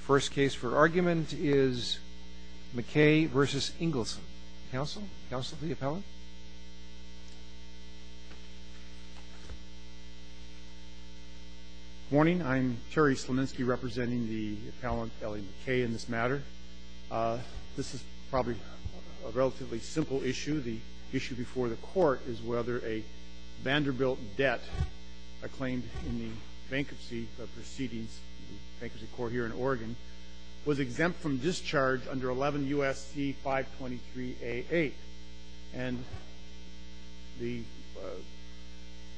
First case for argument is McKay v. Ingleson. Counsel? Counsel to the appellant? Good morning. I'm Terry Slominski representing the appellant Ellie McKay in this matter. This is probably a relatively simple issue. The issue before the court is whether a Vanderbilt debt I claimed in the bankruptcy proceedings, the bankruptcy court here in Oregon, was exempt from discharge under 11 U.S.C. 523 A. 8. And the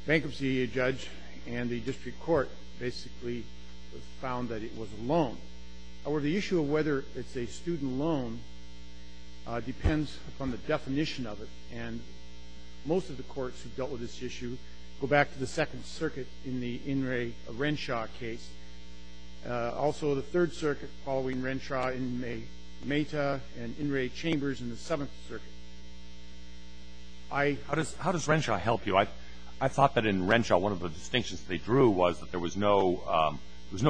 bankruptcy judge and the district court basically found that it was a loan. However, the issue of whether it's a student loan depends upon the definition of it. And most of the courts who've dealt with this issue go back to the Second Circuit in the In re. Renshaw case. Also the Third Circuit following Renshaw in Meta and In re. Chambers in the Seventh Circuit. How does Renshaw help you? I thought that in Renshaw one of the distinctions they drew was that there was no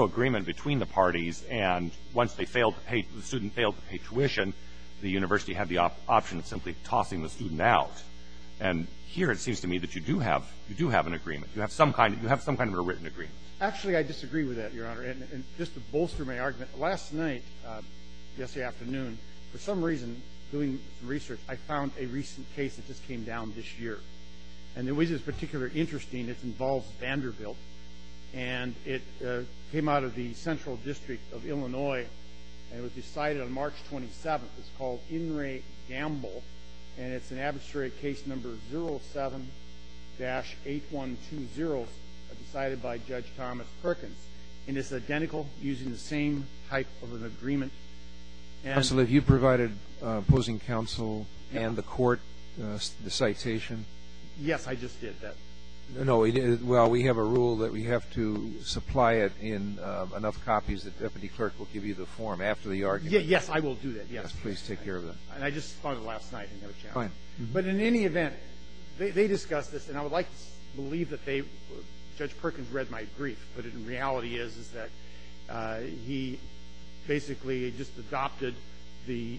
agreement between the parties. And once they failed to pay, the student failed to pay tuition, the university had the option of simply tossing the student out. And here it seems to me that you do have an agreement. You have some kind of a written agreement. Actually, I disagree with that, Your Honor. And just to bolster my argument, last night, yesterday afternoon, for some reason, doing some research, I found a recent case that just came down this year. And it was particularly interesting. It involves Vanderbilt. And it came out of the Central District of Illinois. And it was decided on March 27th. It's called In re. Gamble. And it's an abstract case number 07-8120, decided by Judge Thomas Perkins. And it's identical, using the same type of an agreement. Counsel, have you provided opposing counsel and the court the citation? Yes, I just did that. No. Well, we have a rule that we have to supply it in enough copies that Deputy Clerk will give you the form after the argument. Yes, I will do that. Yes. Please take care of that. And I just filed it last night. Fine. But in any event, they discussed this. And I would like to believe that Judge Perkins read my brief. But the reality is, is that he basically just adopted the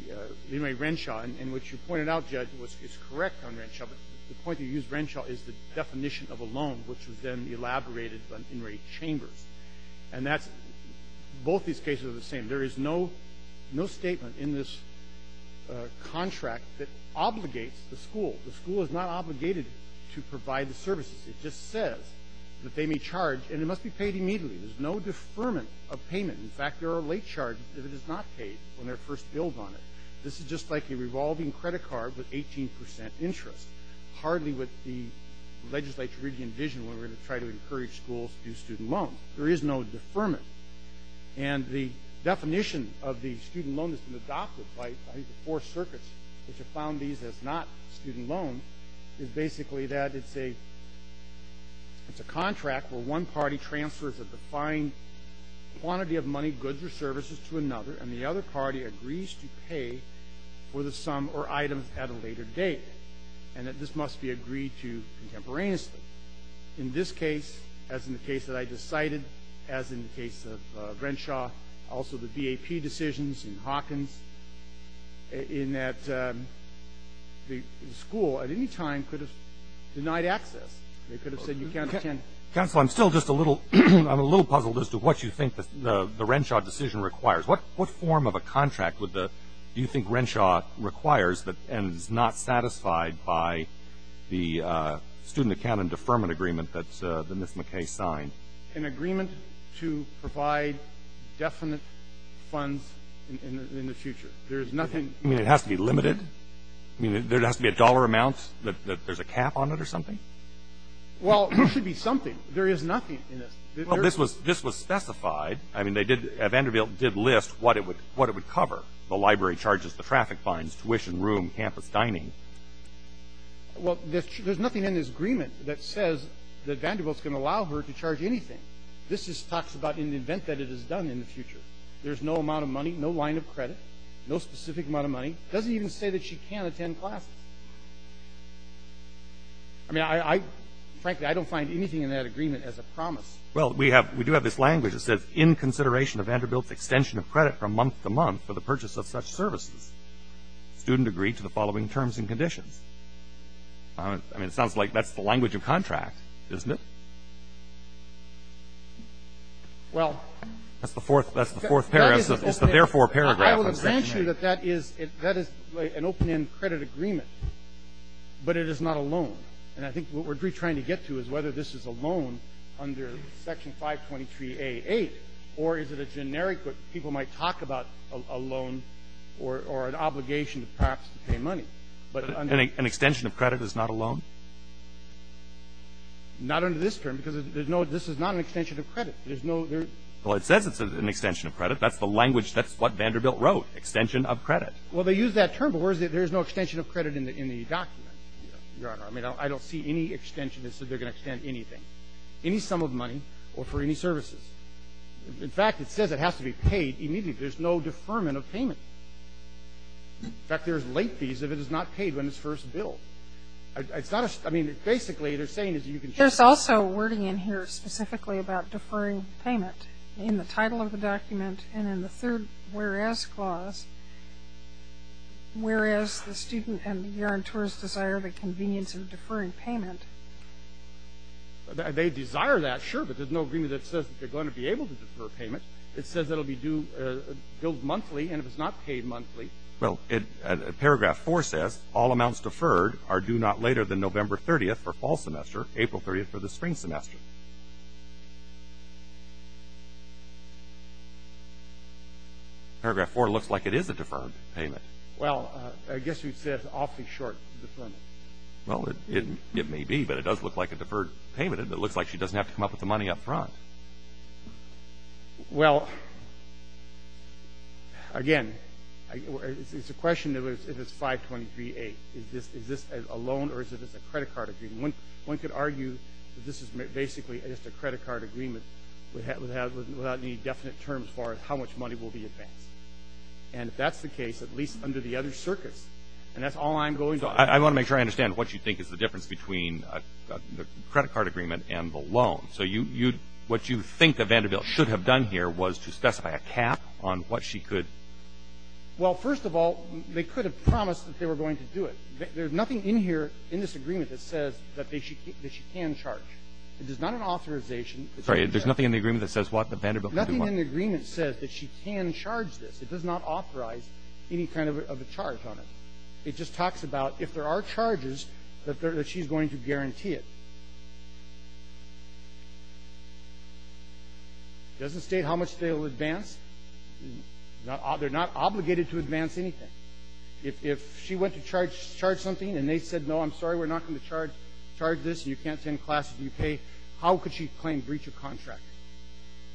In re. Renshaw. And what you pointed out, Judge, is correct on Renshaw. But the point that you used Renshaw is the definition of a loan, which was then elaborated by In re. Chambers. And that's – both these cases are the same. There is no statement in this contract that obligates the school. The school is not obligated to provide the services. It just says that they may charge, and it must be paid immediately. There's no deferment of payment. In fact, there are late charges if it is not paid when they're first billed on it. This is just like a revolving credit card with 18% interest. Hardly would the legislature really envision when we're going to try to encourage schools to do student loans. There is no deferment. And the definition of the student loan that's been adopted by the four circuits, which have found these as not student loans, is basically that it's a contract where one party transfers a defined quantity of money, goods, or services to another, and the other party agrees to pay for the sum or items at a later date, and that this must be agreed to contemporaneously. In this case, as in the case that I just cited, as in the case of Renshaw, also the BAP decisions in Hawkins, in that the school at any time could have denied access. They could have said you can't attend. Counsel, I'm still just a little – I'm a little puzzled as to what you think the Renshaw decision requires. What form of a contract would the – do you think Renshaw requires and is not satisfied by the student account and deferment agreement that Ms. McKay signed? An agreement to provide definite funds in the future. There is nothing – You mean it has to be limited? You mean there has to be a dollar amount that there's a cap on it or something? Well, there should be something. There is nothing in this. Well, this was specified. I mean, they did – Vanderbilt did list what it would cover, the library charges, the traffic fines, tuition, room, campus, dining. Well, there's nothing in this agreement that says that Vanderbilt's going to allow her to charge anything. This just talks about an event that it has done in the future. There's no amount of money, no line of credit, no specific amount of money. It doesn't even say that she can't attend classes. I mean, I – frankly, I don't find anything in that agreement as a promise. Well, we have – we do have this language that says, in consideration of Vanderbilt's extension of credit from month to month for the purchase of such services, student agreed to the following terms and conditions. I mean, it sounds like that's the language of contract, isn't it? Well – That's the fourth – that's the fourth paragraph. It's the therefore paragraph. I would imagine that that is – that is an open-end credit agreement, but it is not a loan. And I think what we're trying to get to is whether this is a loan under Section 523a-8, or is it a generic that people might talk about a loan or an obligation to perhaps pay money. But under – An extension of credit is not a loan? Not under this term, because there's no – this is not an extension of credit. There's no – there's – Well, it says it's an extension of credit. That's the language – that's what Vanderbilt wrote, extension of credit. Well, they use that term, but where is it – there is no extension of credit in the document, Your Honor. I mean, I don't see any extension that said they're going to extend anything, any sum of money or for any services. In fact, it says it has to be paid immediately. There's no deferment of payment. In fact, there's late fees if it is not paid when it's first billed. It's not a – I mean, basically, they're saying that you can – There's also wording in here specifically about deferring payment in the title of the document and in the third whereas clause, whereas the student and the guarantors desire the convenience of deferring payment. They desire that, sure, but there's no agreement that says that they're going to be able to defer payment. It says it will be due – billed monthly, and if it's not paid monthly – Well, paragraph 4 says all amounts deferred are due not later than November 30th for fall semester, April 30th for the spring semester. Paragraph 4 looks like it is a deferred payment. Well, I guess you'd say it's awfully short deferment. Well, it may be, but it does look like a deferred payment. It looks like she doesn't have to come up with the money up front. Well, again, it's a question of if it's 523A. Is this a loan or is this a credit card agreement? One could argue that this is basically just a credit card agreement without any definite terms for how much money will be advanced. And if that's the case, at least under the other circuits, and that's all I'm going to argue. I want to make sure I understand what you think is the difference between the credit card agreement and the loan. So what you think that Vanderbilt should have done here was to specify a cap on what she could – Well, first of all, they could have promised that they were going to do it. There's nothing in here, in this agreement, that says that she can charge. It is not an authorization. Sorry. There's nothing in the agreement that says what the Vanderbilt can do? Nothing in the agreement says that she can charge this. It does not authorize any kind of a charge on it. It just talks about if there are charges, that she's going to guarantee it. It doesn't state how much they will advance. They're not obligated to advance anything. If she went to charge something and they said, no, I'm sorry, we're not going to charge this and you can't attend classes and you pay, how could she claim breach of contract?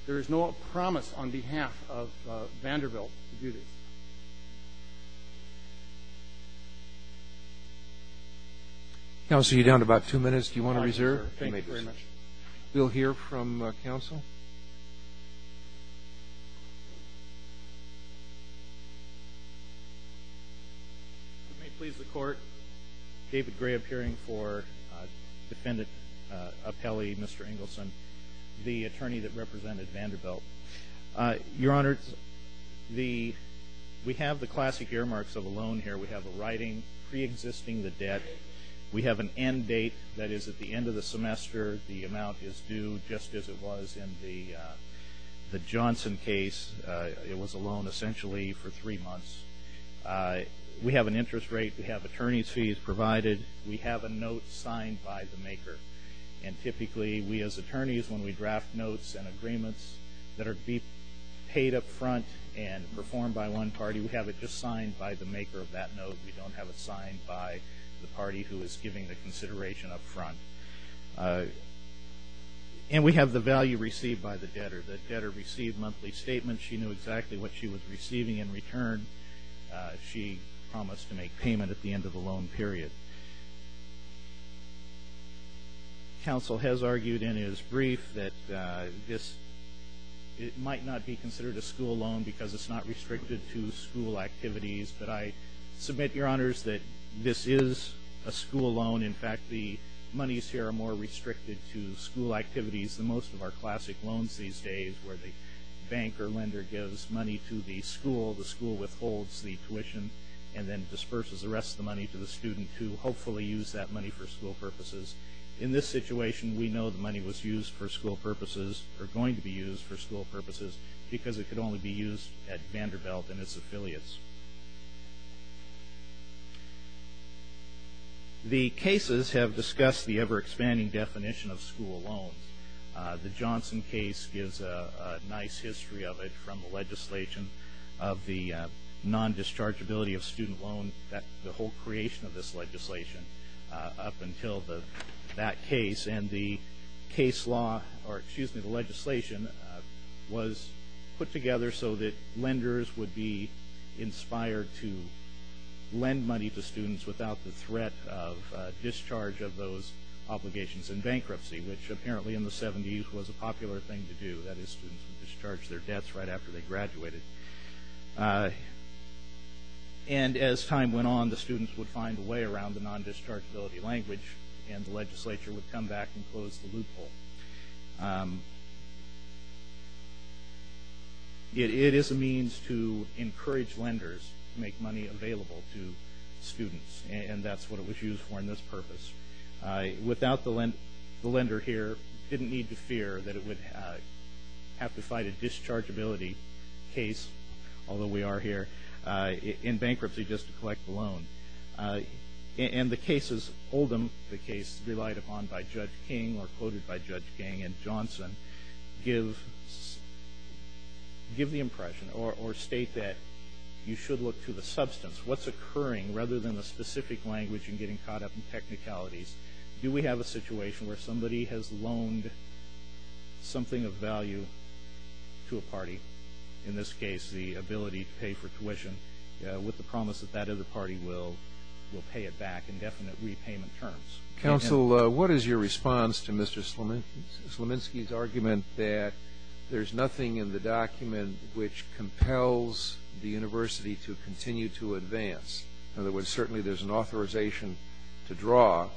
There is no promise on behalf of Vanderbilt to do this. Counsel, you're down to about two minutes. Do you want to reserve? Thank you very much. We'll hear from counsel. If it may please the Court, David Gray appearing for Defendant Appelli, Mr. Engelson, the attorney that represented Vanderbilt. Your Honor, we have the classic earmarks of a loan here. We have a writing preexisting the debt. We have an end date that is at the end of the semester. The amount is due just as it was in the Johnson case. It was a loan essentially for three months. We have an interest rate. We have attorney's fees provided. We have a note signed by the maker. And typically, we as attorneys, when we draft notes and agreements that are paid up front and performed by one party, we have it just signed by the maker of that note. We don't have it signed by the party who is giving the consideration up front. And we have the value received by the debtor. The debtor received monthly statements. She knew exactly what she was receiving in return. She promised to make payment at the end of the loan period. Counsel has argued in his brief that this might not be considered a school loan because it's not restricted to school activities. But I submit, Your Honors, that this is a school loan. In fact, the monies here are more restricted to school activities than most of our classic loans these days where the bank or lender gives money to the school, the school withholds the tuition, and then disperses the rest of the money to the student to hopefully use that money for school purposes. In this situation, we know the money was used for school purposes because it could only be used at Vanderbilt and its affiliates. The cases have discussed the ever-expanding definition of school loans. The Johnson case gives a nice history of it from the legislation of the non-dischargeability of student loans, the whole creation of this legislation up until that case. And the legislation was put together so that lenders would be inspired to lend money to students without the threat of discharge of those obligations in bankruptcy, which apparently in the 70s was a popular thing to do. That is, students would discharge their debts right after they graduated. And as time went on, the students would find a way around the non-dischargeability language, and the legislature would come back and close the loophole. It is a means to encourage lenders to make money available to students, and that's what it was used for in this purpose. Without the lender here, didn't need to fear that it would have to fight a dischargeability case, although we are here, in bankruptcy just to collect the loan. And the cases, Oldham, the case relied upon by Judge King or quoted by Judge King and Johnson, give the impression or state that you should look to the substance, what's occurring rather than the specific language and getting caught up in technicalities. Do we have a situation where somebody has loaned something of value to a party, in this case the ability to pay for tuition, with the promise that that other party will pay it back in definite repayment terms? Counsel, what is your response to Mr. Slominski's argument that there's nothing in the document which compels the university to continue to advance? In other words, certainly there's an authorization to draw,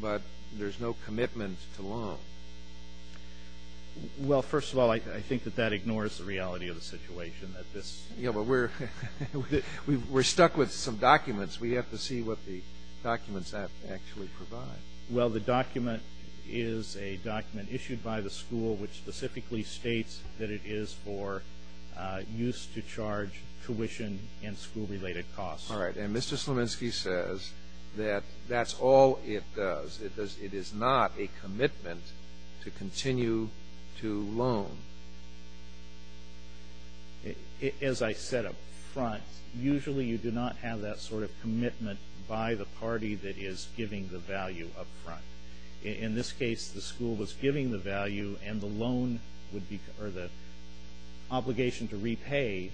but there's no commitment to loan. Well, first of all, I think that that ignores the reality of the situation. Yeah, but we're stuck with some documents. We have to see what the documents actually provide. Well, the document is a document issued by the school, which specifically states that it is for use to charge tuition and school-related costs. All right, and Mr. Slominski says that that's all it does. It is not a commitment to continue to loan. As I said up front, usually you do not have that sort of commitment by the party that is giving the value up front. In this case, the school was giving the value, and the obligation to repay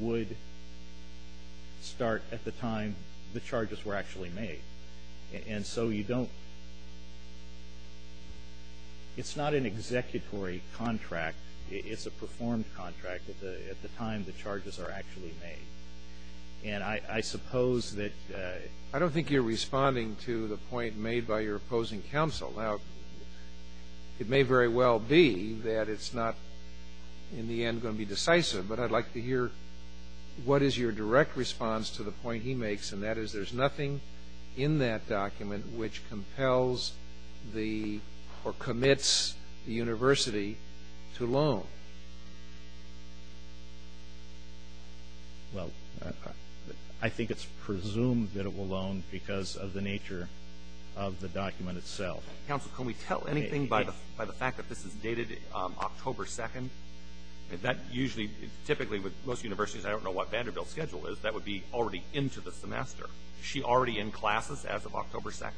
would start at the time the charges were actually made. And so you don't – it's not an executory contract. It's a performed contract at the time the charges are actually made. And I suppose that – I don't think you're responding to the point made by your opposing counsel. Now, it may very well be that it's not in the end going to be decisive, but I'd like to hear what is your direct response to the point he makes, and that is there's nothing in that document which compels the – or commits the university to loan. Well, I think it's presumed that it will loan because of the nature of the document itself. Counsel, can we tell anything by the fact that this is dated October 2nd? That usually – typically with most universities, I don't know what Vanderbilt's schedule is. That would be already into the semester. Is she already in classes as of October 2nd,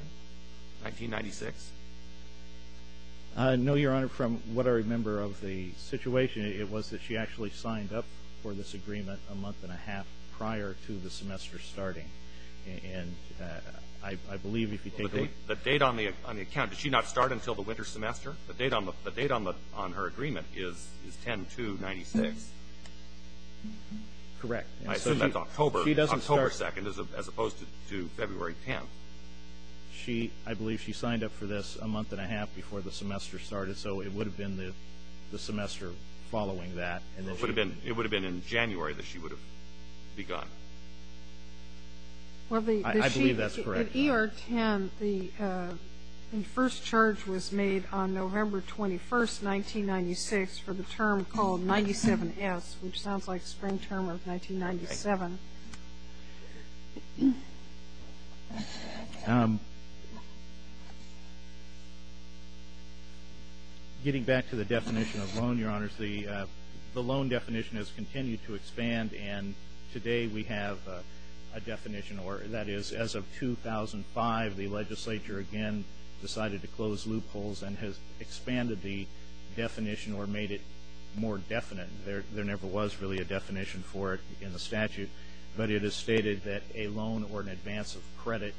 1996? No, Your Honor. From what I remember of the situation, it was that she actually signed up for this agreement a month and a half prior to the semester starting. And I believe if you take a look – The date on the account, did she not start until the winter semester? The date on her agreement is 10-2-96. Correct. I assume that's October 2nd as opposed to February 10th. I believe she signed up for this a month and a half before the semester started, so it would have been the semester following that. It would have been in January that she would have begun. I believe that's correct. With ER-10, the first charge was made on November 21st, 1996 for the term called 97S, which sounds like spring term of 1997. Getting back to the definition of loan, Your Honors, the loan definition has continued to expand, and today we have a definition, or that is as of 2005 the legislature again decided to close loopholes and has expanded the definition or made it more definite. There never was really a definition for it in the statute, but it is stated that a loan or an advance of credit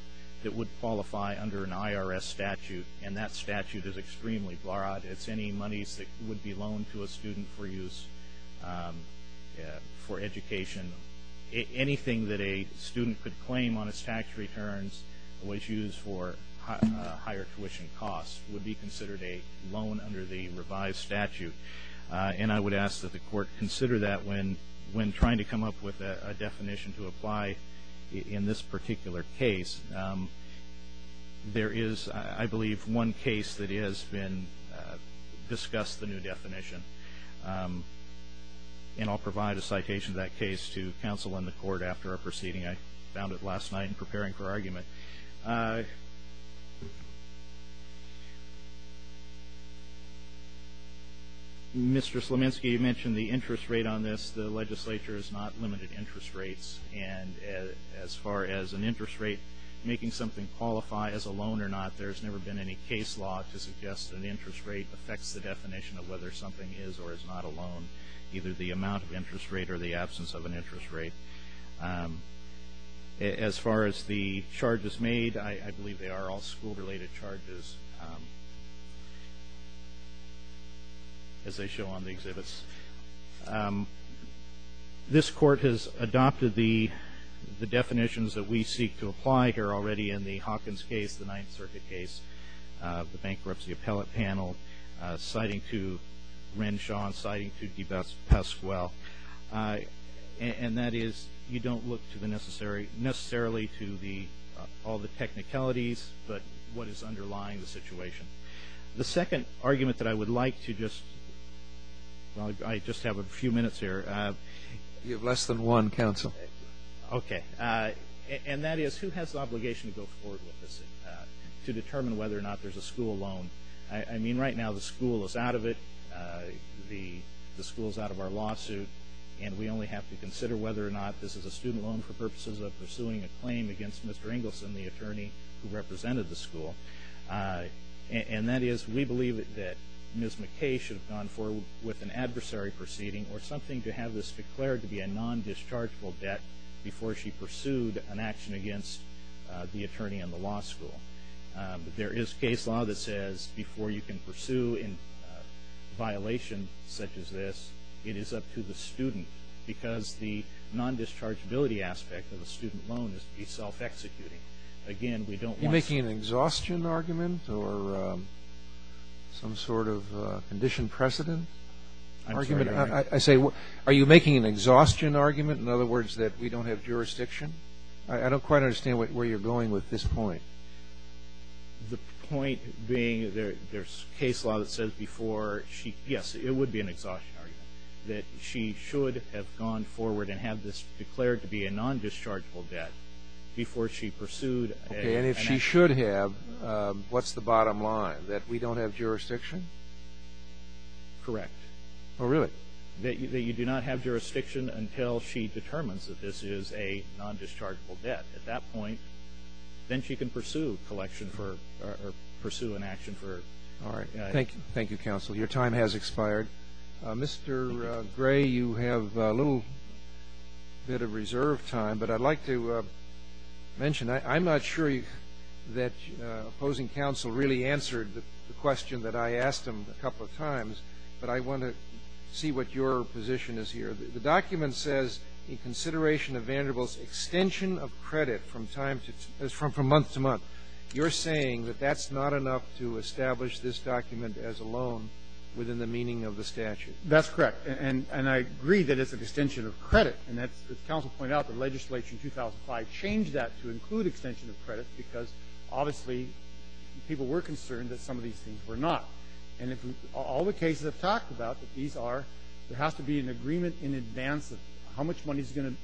that would qualify under an IRS statute, and that statute is extremely broad. It's any monies that would be loaned to a student for use for education. Anything that a student could claim on his tax returns was used for higher tuition costs would be considered a loan under the revised statute, and I would ask that the court consider that when trying to come up with a definition to apply in this particular case. There is, I believe, one case that has been discussed the new definition, and I'll provide a citation of that case to counsel in the court after our proceeding. I found it last night in preparing for argument. Mr. Sleminski, you mentioned the interest rate on this. The legislature has not limited interest rates, and as far as an interest rate making something qualify as a loan or not, there's never been any case law to suggest an interest rate affects the definition of whether something is or is not a loan, either the amount of interest rate or the absence of an interest rate. As far as the charges made, I believe they are all school-related charges, as they show on the exhibits. This court has adopted the definitions that we seek to apply here already in the Hawkins case, the Ninth Circuit case, the bankruptcy appellate panel, citing to Renshaw and citing to DePasquale, and that is you don't look necessarily to all the technicalities but what is underlying the situation. The second argument that I would like to just, well, I just have a few minutes here. You have less than one, counsel. Okay, and that is who has the obligation to go forward with this to determine whether or not there's a school loan. I mean right now the school is out of it, the school is out of our lawsuit, and we only have to consider whether or not this is a student loan for purposes of pursuing a claim against Mr. Engelson, the attorney who represented the school. And that is we believe that Ms. McKay should have gone forward with an adversary proceeding or something to have this declared to be a non-dischargeable debt before she pursued an action against the attorney in the law school. There is case law that says before you can pursue in violation such as this, it is up to the student because the non-dischargeability aspect of a student loan is to be self-executing. Again, we don't want to see. Are you making an exhaustion argument or some sort of condition precedent argument? I say are you making an exhaustion argument, in other words, that we don't have jurisdiction? I don't quite understand where you're going with this point. The point being there's case law that says before she, yes, it would be an exhaustion argument, that she should have gone forward and have this declared to be a non-dischargeable debt before she pursued an action. Okay, and if she should have, what's the bottom line, that we don't have jurisdiction? Correct. Oh, really? That you do not have jurisdiction until she determines that this is a non-dischargeable debt. At that point, then she can pursue collection for or pursue an action for. All right. Thank you. Thank you, counsel. Your time has expired. Mr. Gray, you have a little bit of reserve time, but I'd like to mention, I'm not sure that opposing counsel really answered the question that I asked him a couple of times, but I want to see what your position is here. The document says, in consideration of Vanderbilt's extension of credit from time to, from month to month, you're saying that that's not enough to establish this document as a loan within the meaning of the statute. That's correct. And I agree that it's an extension of credit. And as counsel pointed out, the legislature in 2005 changed that to include extension of credit because obviously people were concerned that some of these things were not. And all the cases I've talked about that these are, there has to be an agreement in advance of how much money is going to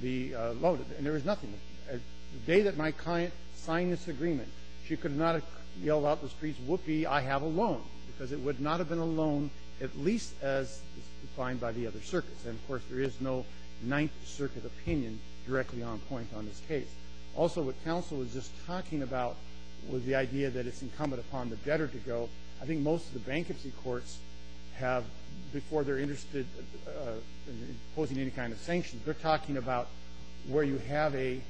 be loaded. And there is nothing. The day that my client signed this agreement, she could not have yelled out in the streets, whoopee, I have a loan, because it would not have been a loan, at least as defined by the other circuits. And, of course, there is no Ninth Circuit opinion directly on point on this case. Also, what counsel was just talking about was the idea that it's incumbent upon the debtor to go. I think most of the bankruptcy courts have, before they're interested in imposing any kind of sanctions, they're talking about where you have a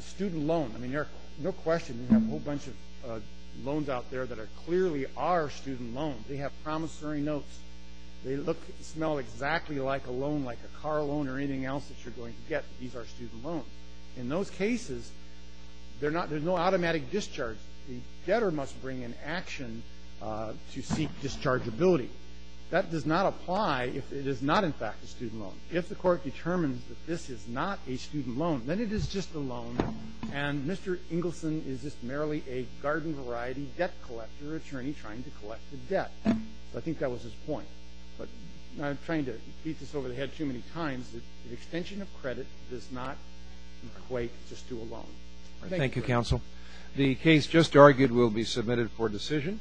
student loan. I mean, no question, you have a whole bunch of loans out there that clearly are student loans. They have promissory notes. They smell exactly like a loan, like a car loan or anything else that you're going to get. These are student loans. In those cases, there's no automatic discharge. The debtor must bring an action to seek dischargeability. That does not apply if it is not, in fact, a student loan. If the court determines that this is not a student loan, then it is just a loan, and Mr. Ingleson is just merely a garden-variety debt collector attorney trying to collect the debt. So I think that was his point. But I'm trying to beat this over the head too many times. The extension of credit does not equate just to a loan. Thank you, counsel. The case just argued will be submitted for decision.